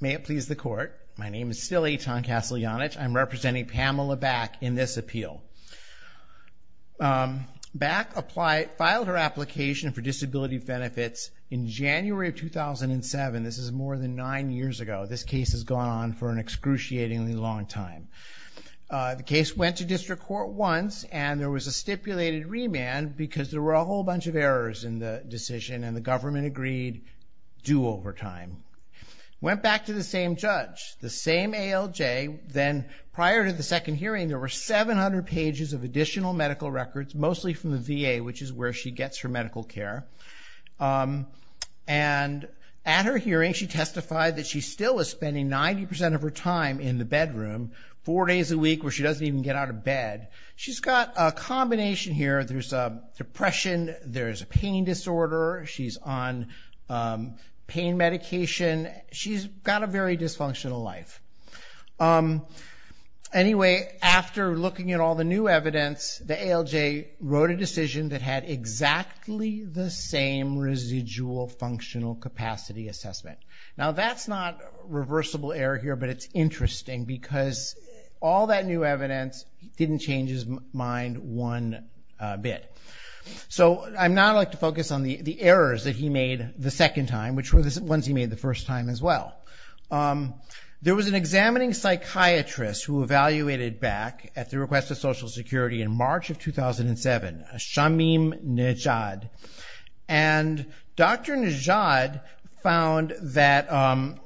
May it please the court, my name is still Eitan Kasteljanich, I'm representing Pamela Back in this appeal. Back filed her application for disability benefits in January of 2007, this is more than nine years ago, this case has gone on for an excruciatingly long time. The case went to district court once and there was a stipulated remand because there were a whole bunch of errors in the decision and the government agreed due over time. Went back to the same judge, the same ALJ, then prior to the second hearing there were 700 pages of additional medical records mostly from the VA which is where she gets her medical care and at her hearing she testified that she still is spending 90% of her time in the bedroom four days a week where she doesn't even get out of bed. She's got a combination here, there's depression, there's a pain disorder, she's on pain medication, she's got a very dysfunctional life. Anyway after looking at all the new evidence the ALJ wrote a decision that had exactly the same residual functional capacity assessment. Now that's not reversible error here but it's interesting because all that new evidence didn't change his mind one bit. So I'd now like to focus on the errors that he made the second time which were the ones he made the first time as well. There was an examining psychiatrist who evaluated Back at the request of Social Security in March of 2007, Shamim Nejad, and Dr. Nejad found that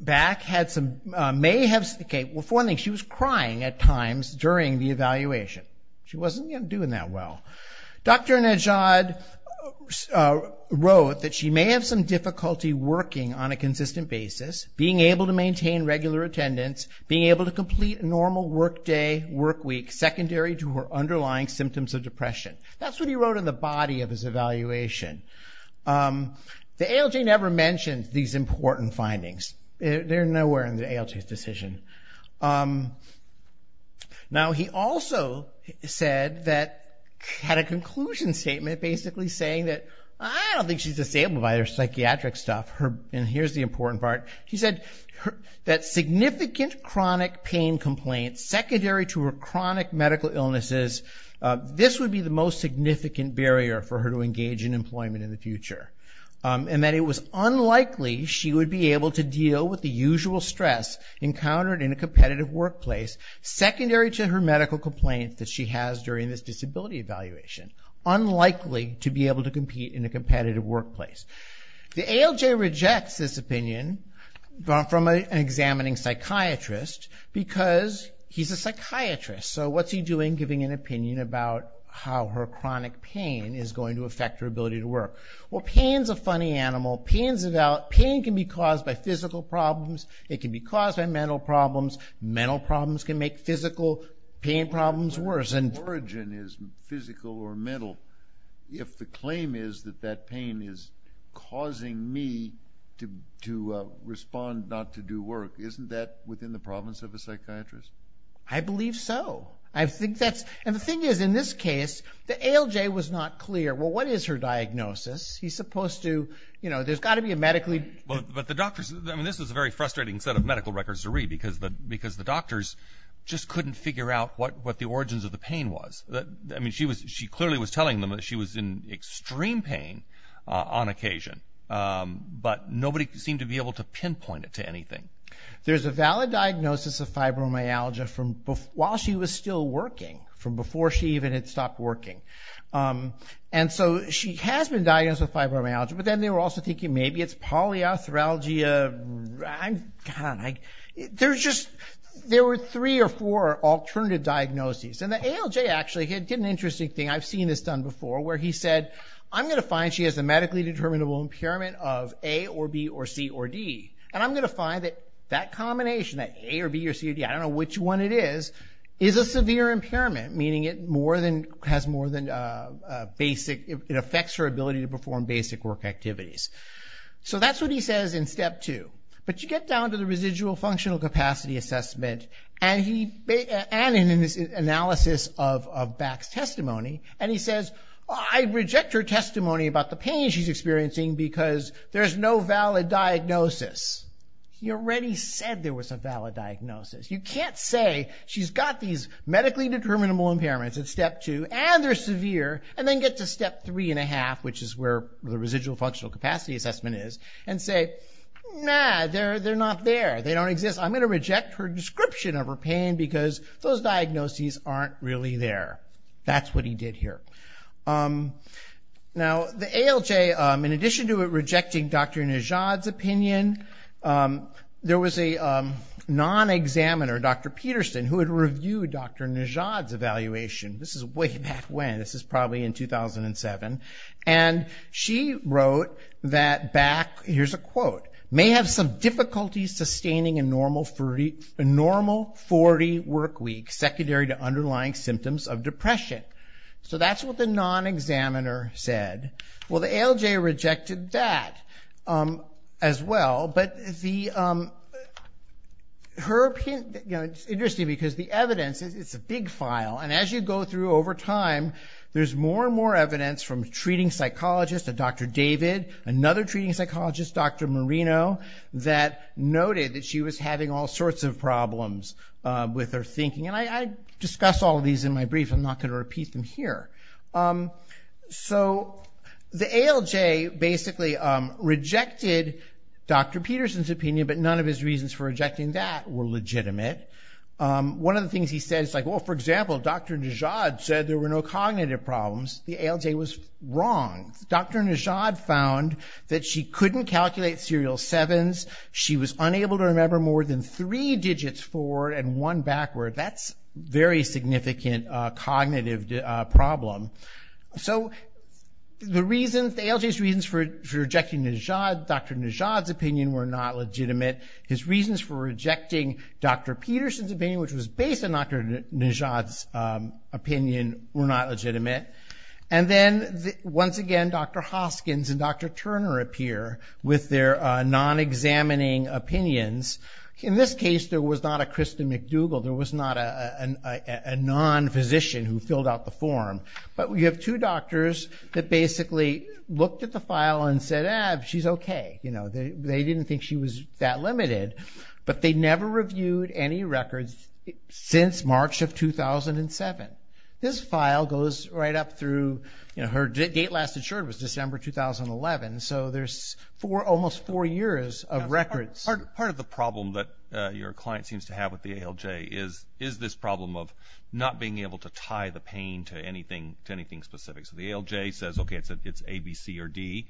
Back had some, may have, okay well here's one thing, she was crying at times during the evaluation. She wasn't doing that well. Dr. Nejad wrote that she may have some difficulty working on a consistent basis, being able to maintain regular attendance, being able to complete a normal work day, work week secondary to her underlying symptoms of depression. That's what he wrote in the body of his evaluation. The ALJ never mentioned these important findings. They're nowhere in the ALJ's decision. Now he also said that, had a conclusion statement basically saying that, I don't think she's disabled by her psychiatric stuff, and here's the important part, he said that significant chronic pain complaints secondary to her chronic medical illnesses, this would be the most significant barrier for her to engage in employment in the future, and that it was unlikely she would be able to deal with the usual stress encountered in a competitive workplace, secondary to her medical complaints that she has during this disability evaluation. Unlikely to be able to compete in a competitive workplace. The ALJ rejects this opinion from an examining psychiatrist because he's a psychiatrist, so what's he doing giving an opinion about how her chronic pain is going to affect her ability to work. Well pain's a funny animal, pain can be caused by physical problems, it can be caused by mental problems, mental problems can make physical pain problems worse. If the origin is physical or mental, if the claim is that that pain is causing me to respond not to do work, isn't that within the province of a psychiatrist? I believe so, and the thing is, in this case, the ALJ was not clear. Well what is her diagnosis? He's supposed to, you know, there's got to be a medically... But the doctors, I mean this is a very frustrating set of medical records to read because the doctors just couldn't figure out what the origins of the pain was. I mean she clearly was telling them that she was in extreme pain on occasion, but nobody seemed to be able to pinpoint it to anything. There's a valid diagnosis of fibromyalgia while she was still working, from before she even had stopped working. And so she has been diagnosed with fibromyalgia, but then they were also thinking maybe it's polyarthralgia. There's just, there were three or four alternative diagnoses, and the ALJ actually did an interesting thing, I've seen this done before, where he said, I'm going to find she has a medically determinable impairment of A or B or C or D, and I'm going to find that that combination, that A or B or C or D, I don't know which one it is, is a severe impairment, meaning it more than, has more than basic, it affects her ability to perform basic work activities. So that's what he says in step two. But you get down to the residual functional capacity assessment, and he, and in his analysis of Back's testimony, and he says, I reject her testimony about the pain she's experiencing because there's no valid diagnosis. He already said there was a valid diagnosis. You can't say she's got these medically determinable impairments in step two, and they're severe, and then get to step three and a half, which is where the residual functional capacity assessment is, and say, nah, they're not there, they don't exist, I'm going to reject her description of her pain because those diagnoses aren't really there. That's what he did here. Now, the ALJ, in addition to rejecting Dr. Najad's opinion, there was a non-examiner, Dr. Peterson, who had reviewed Dr. Najad's evaluation, this is way back when, this is probably in 2007, and she wrote that Back, here's a quote, may have some difficulties sustaining a normal 40 work week secondary to underlying symptoms of depression. So that's what the non-examiner said. Well, the ALJ rejected that as well, but her opinion, it's interesting because the evidence, it's a big file, and as you go through over time, there's more and more evidence from treating psychologists, a Dr. David, another treating psychologist, Dr. Marino, that noted that she was having all sorts of problems with her thinking, and I discuss all of these in my brief, I'm not going to repeat them here. So the ALJ basically rejected Dr. Peterson's opinion, but none of his reasons for rejecting that were legitimate. One of the things he said is, well, for example, Dr. Najad said there were no cognitive problems, the ALJ was wrong. Dr. Najad found that she couldn't calculate serial sevens, she was unable to remember more than three digits forward and one backward. That's a very significant cognitive problem. So the reasons, the ALJ's reasons for rejecting Dr. Najad's opinion were not legitimate. His reasons for rejecting Dr. Peterson's opinion, which was based on Dr. Najad's opinion, were not legitimate. And then once again, Dr. Hoskins and Dr. Turner appear with their non-examining opinions. In this case, there was not a Krista McDougall, there was not a non-physician who filled out the form, but we have two doctors that basically looked at the file and said, ah, she's okay. They didn't think she was that limited, but they never reviewed any records since March of 2007. This file goes right up through, her date last insured was December 2011, so there's almost four years of records. Part of the problem that your client seems to have with the ALJ is this problem of not being able to tie the pain to anything specific. So the ALJ says, okay, it's A, B, C, or D,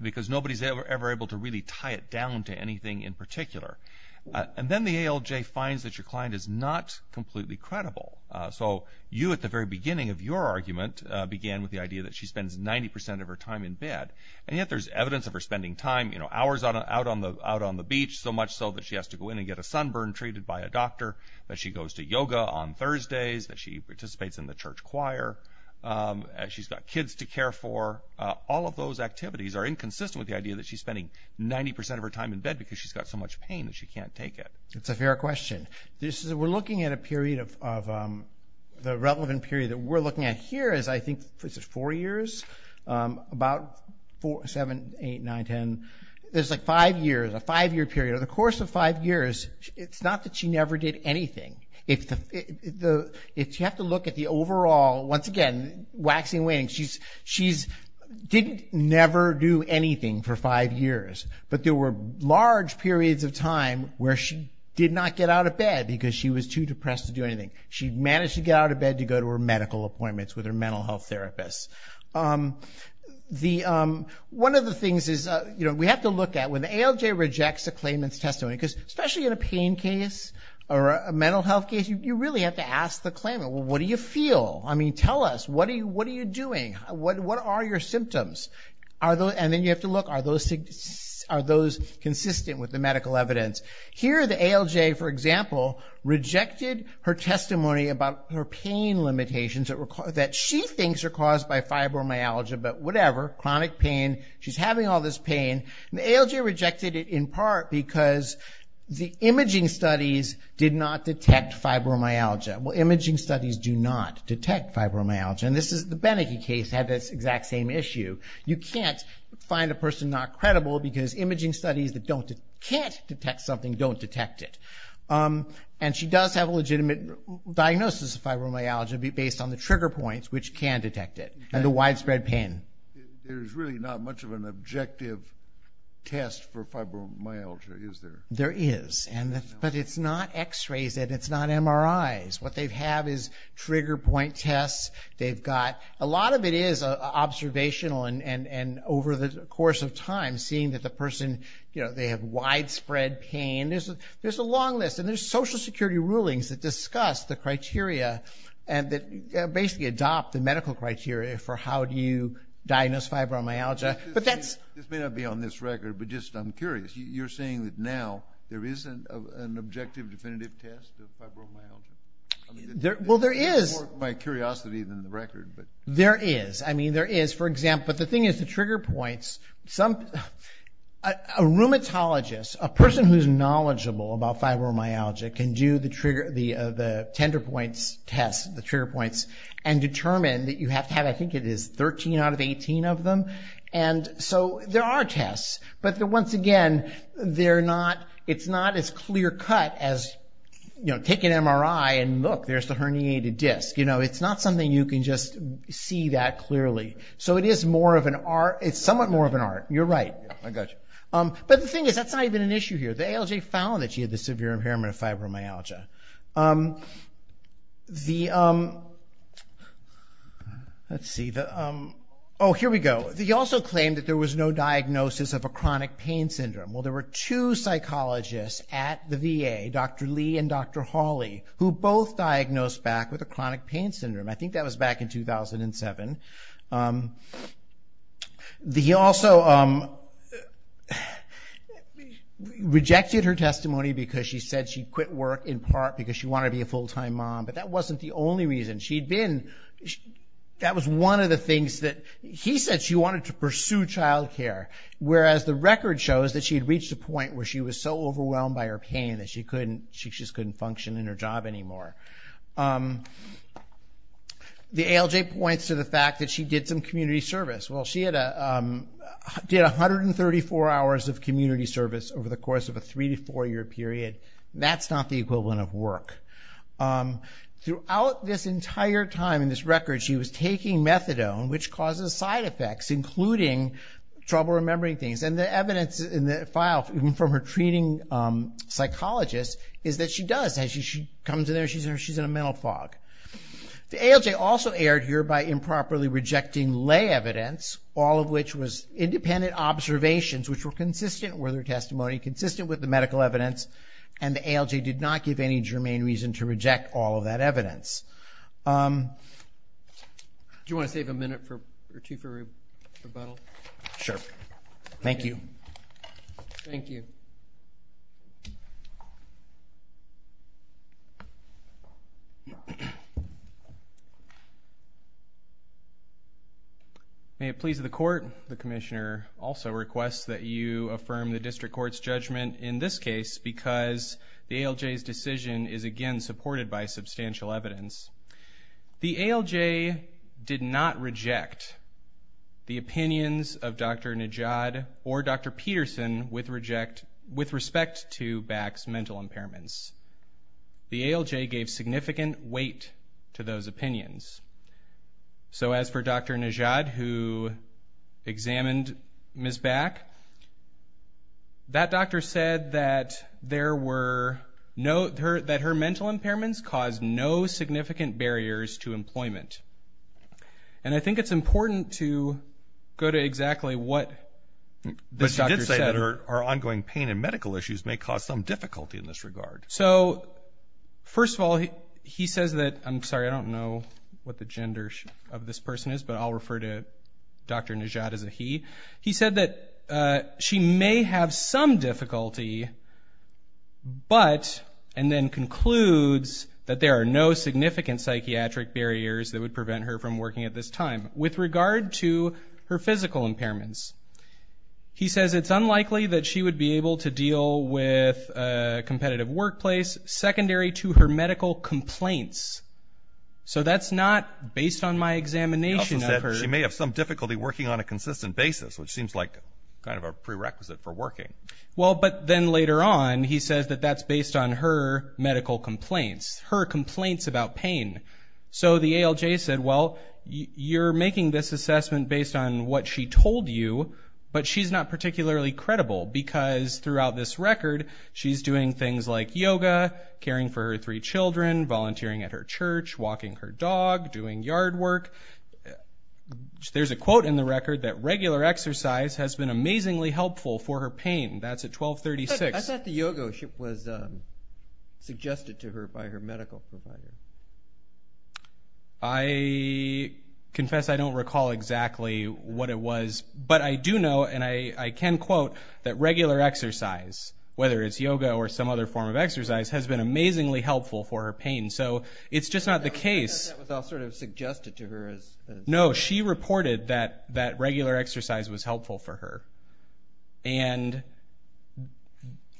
because nobody's ever able to really tie it down to anything in particular. And then the ALJ finds that your client is not completely credible. So you, at the very beginning of your argument, began with the idea that she spends 90% of her time in bed. And yet there's evidence of her spending time, you know, hours out on the beach, so much so that she has to go in and get a sunburn treated by a doctor, that she goes to yoga on Thursdays, that she participates in the church choir, she's got kids to care for. All of those activities are inconsistent with the idea that she's spending 90% of her time in bed because she's got so much pain that she can't take it. It's a fair question. We're looking at a period of, the relevant period that we're looking at here is I think it's four years, about seven, eight, nine, ten. There's like five years, a five-year period. Over the course of five years, it's not that she never did anything. If you have to look at the overall, once again, waxing and waning, she didn't never do anything for five years. But there were large periods of time where she did not get out of bed because she was too depressed to do anything. She managed to get out of bed to go to her medical appointments with her mental health therapist. One of the things is we have to look at, when the ALJ rejects a claimant's testimony, because especially in a pain case or a mental health case, you really have to ask the claimant, what do you feel? I mean, tell us, what are you doing? What are your symptoms? And then you have to look, are those consistent with the medical evidence? Here the ALJ, for example, rejected her testimony about her pain limitations that she thinks are caused by fibromyalgia, but whatever, chronic pain, she's having all this pain. The ALJ rejected it in part because the imaging studies did not detect fibromyalgia. Well, imaging studies do not detect fibromyalgia, and the Beneke case had this exact same issue. You can't find a person not credible because imaging studies that can't detect something don't detect it. And she does have a legitimate diagnosis of fibromyalgia based on the trigger points, which can detect it, and the widespread pain. There's really not much of an objective test for fibromyalgia, is there? There is, but it's not x-rays and it's not MRIs. What they have is trigger point tests. They've got, a lot of it is observational and over the course of time, seeing that the person, you know, they have widespread pain. There's a long list, and there's social security rulings that discuss the criteria and that basically adopt the medical criteria for how do you diagnose fibromyalgia. But that's- This may not be on this record, but just I'm curious. You're saying that now there isn't an objective definitive test of fibromyalgia? Well there is. More of my curiosity than the record, but- There is. I mean, there is, for example, but the thing is the trigger points, some, a rheumatologist, a person who's knowledgeable about fibromyalgia can do the trigger, the tender points test, the trigger points, and determine that you have to have, I think it is 13 out of 18 of them. And so there are tests, but once again, they're not, it's not as clear cut as, you know, take an MRI and look, there's the herniated disc. You know, it's not something you can just see that clearly. So it is more of an art. It's somewhat more of an art. You're right. I got you. But the thing is, that's not even an issue here. The ALJ found that she had the severe impairment of fibromyalgia. The- Let's see, oh, here we go. He also claimed that there was no diagnosis of a chronic pain syndrome. Well, there were two psychologists at the VA, Dr. Lee and Dr. Hawley, who both diagnosed back with a chronic pain syndrome. I think that was back in 2007. He also rejected her testimony because she said she'd quit work in part because she wanted to be a full-time mom, but that wasn't the only reason. She'd been, that was one of the things that, he said she wanted to pursue childcare, whereas the record shows that she had reached a point where she was so overwhelmed by her pain that she couldn't, she just couldn't function in her job anymore. The ALJ points to the fact that she did some community service. Well, she had a, did 134 hours of community service over the course of a three to four year period. That's not the equivalent of work. Throughout this entire time in this record, she was taking methadone, which causes side things, and the evidence in the file from her treating psychologist is that she does. She comes in there, she's in a mental fog. The ALJ also erred here by improperly rejecting lay evidence, all of which was independent observations, which were consistent with her testimony, consistent with the medical evidence, and the ALJ did not give any germane reason to reject all of that evidence. Do you want to save a minute or two for rebuttal? Sure. Thank you. Thank you. May it please the court, the commissioner also requests that you affirm the district court's judgment in this case because the ALJ's decision is, again, supported by substantial evidence. The ALJ did not reject the opinions of Dr. Nejad or Dr. Peterson with respect to Back's mental impairments. The ALJ gave significant weight to those opinions. So as for Dr. Nejad, who examined Ms. Back, that doctor said that her mental impairments caused no significant barriers to employment. And I think it's important to go to exactly what this doctor said. But she did say that her ongoing pain and medical issues may cause some difficulty in this regard. So, first of all, he says that, I'm sorry, I don't know what the gender of this person is, but I'll refer to Dr. Nejad as a he. He said that she may have some difficulty, but, and then concludes that there are no significant psychiatric barriers that would prevent her from working at this time. With regard to her physical impairments, he says it's unlikely that she would be able to deal with a competitive workplace secondary to her medical complaints. So that's not based on my examination of her. She may have some difficulty working on a consistent basis, which seems like kind of a prerequisite for working. Well, but then later on, he says that that's based on her medical complaints, her complaints about pain. So the ALJ said, well, you're making this assessment based on what she told you, but she's not particularly credible because throughout this record, she's doing things like yoga, caring for her three children, volunteering at her church, walking her dog, doing yard work. There's a quote in the record that regular exercise has been amazingly helpful for her pain. That's at 1236. That's not the yoga that was suggested to her by her medical provider. I confess I don't recall exactly what it was, but I do know, and I can quote, that regular exercise, whether it's yoga or some other form of exercise, has been amazingly helpful for her pain. So it's just not the case. I thought that was all sort of suggested to her as... No, she reported that regular exercise was helpful for her. And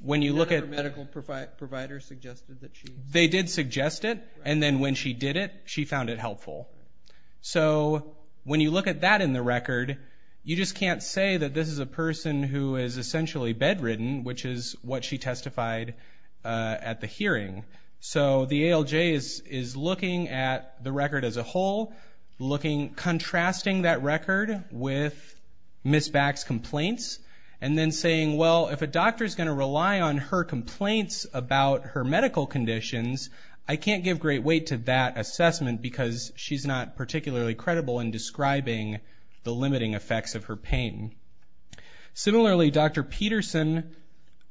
when you look at... Her medical provider suggested that she... They did suggest it, and then when she did it, she found it helpful. So when you look at that in the record, you just can't say that this is a person who is essentially bedridden, which is what she testified at the hearing. So the ALJ is looking at the record as a whole, contrasting that record with Ms. Back's complaints, and then saying, well, if a doctor's gonna rely on her complaints about her medical conditions, I can't give great weight to that assessment because she's not particularly credible in describing the limiting effects of her pain. Similarly, Dr. Peterson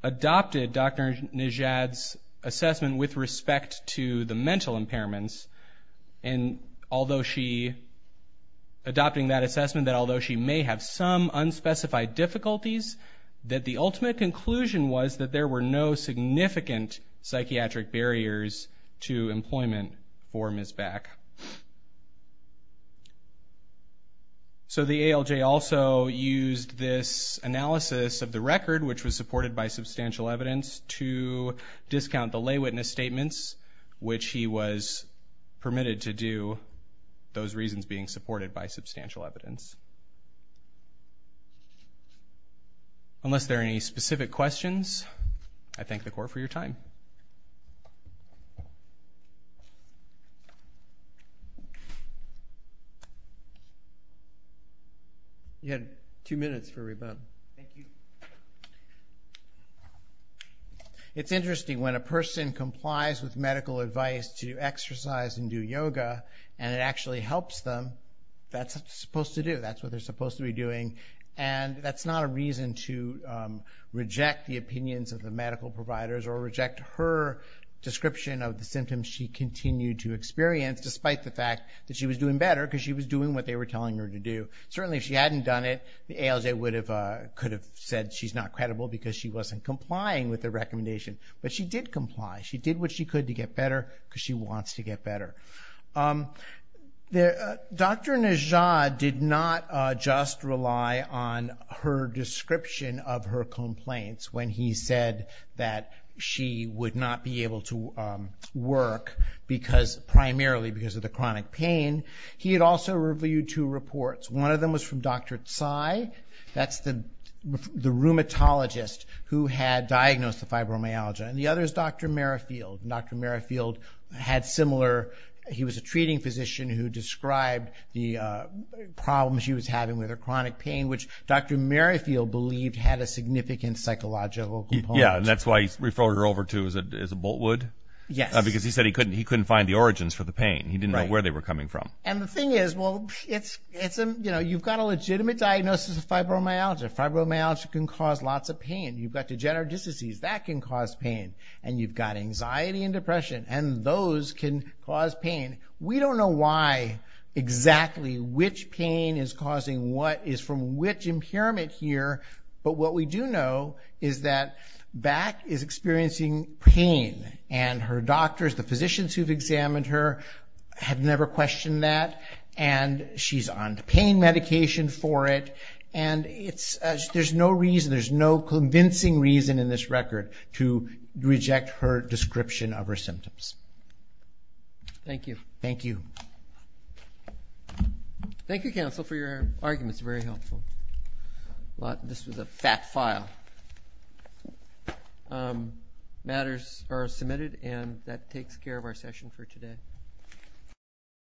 adopted Dr. Nejad's assessment with respect to the mental impairments, and although she... Adopting that assessment, that although she may have some unspecified difficulties, that the ultimate conclusion was that there were no significant psychiatric barriers to employment for Ms. Back. So the ALJ also used this analysis of the record, which was supported by substantial evidence, to discount the lay witness statements, which he was permitted to do, those reasons being supported by substantial evidence. Unless there are any specific questions, I thank the court for your time. You had two minutes for rebuttal. Thank you. It's interesting. When a person complies with medical advice to exercise and do yoga, and it actually helps them, that's what they're supposed to do, that's what they're supposed to be doing, and that's not a reason to reject the opinions of the medical providers or reject her description of the symptoms she continued to experience, despite the fact that she was doing better because she was doing what they were telling her to do. Certainly, if she hadn't done it, the ALJ could have said she's not credible because she wasn't complying with the recommendation, but she did comply. She did what she could to get better because she wants to get better. Dr. Nejad did not just rely on her description of her complaints when he said that she would not be able to work, primarily because of the chronic pain. He had also reviewed two reports. One of them was from Dr. Tsai. That's the rheumatologist who had diagnosed the fibromyalgia, and the other is Dr. Merrifield. Dr. Merrifield had similar, he was a treating physician who described the problems she was having with her chronic pain, which Dr. Merrifield believed had a significant psychological component. Yeah, and that's why he referred her over to as a Boltwood, because he said he couldn't find the origins for the pain. He didn't know where they were coming from. And the thing is, well, you've got a legitimate diagnosis of fibromyalgia. Fibromyalgia can cause lots of pain. You've got degenerative diseases. That can cause pain. And you've got anxiety and depression, and those can cause pain. We don't know why exactly which pain is causing what is from which impairment here, but what we do know is that Back is experiencing pain, and her doctors, the physicians who've examined her have never questioned that, and she's on pain medication for it. And there's no reason, there's no convincing reason in this record to reject her description of her symptoms. Thank you. Thank you. Thank you, counsel, for your arguments. Very helpful. This was a fat file. Matters are submitted, and that takes care of our session for today.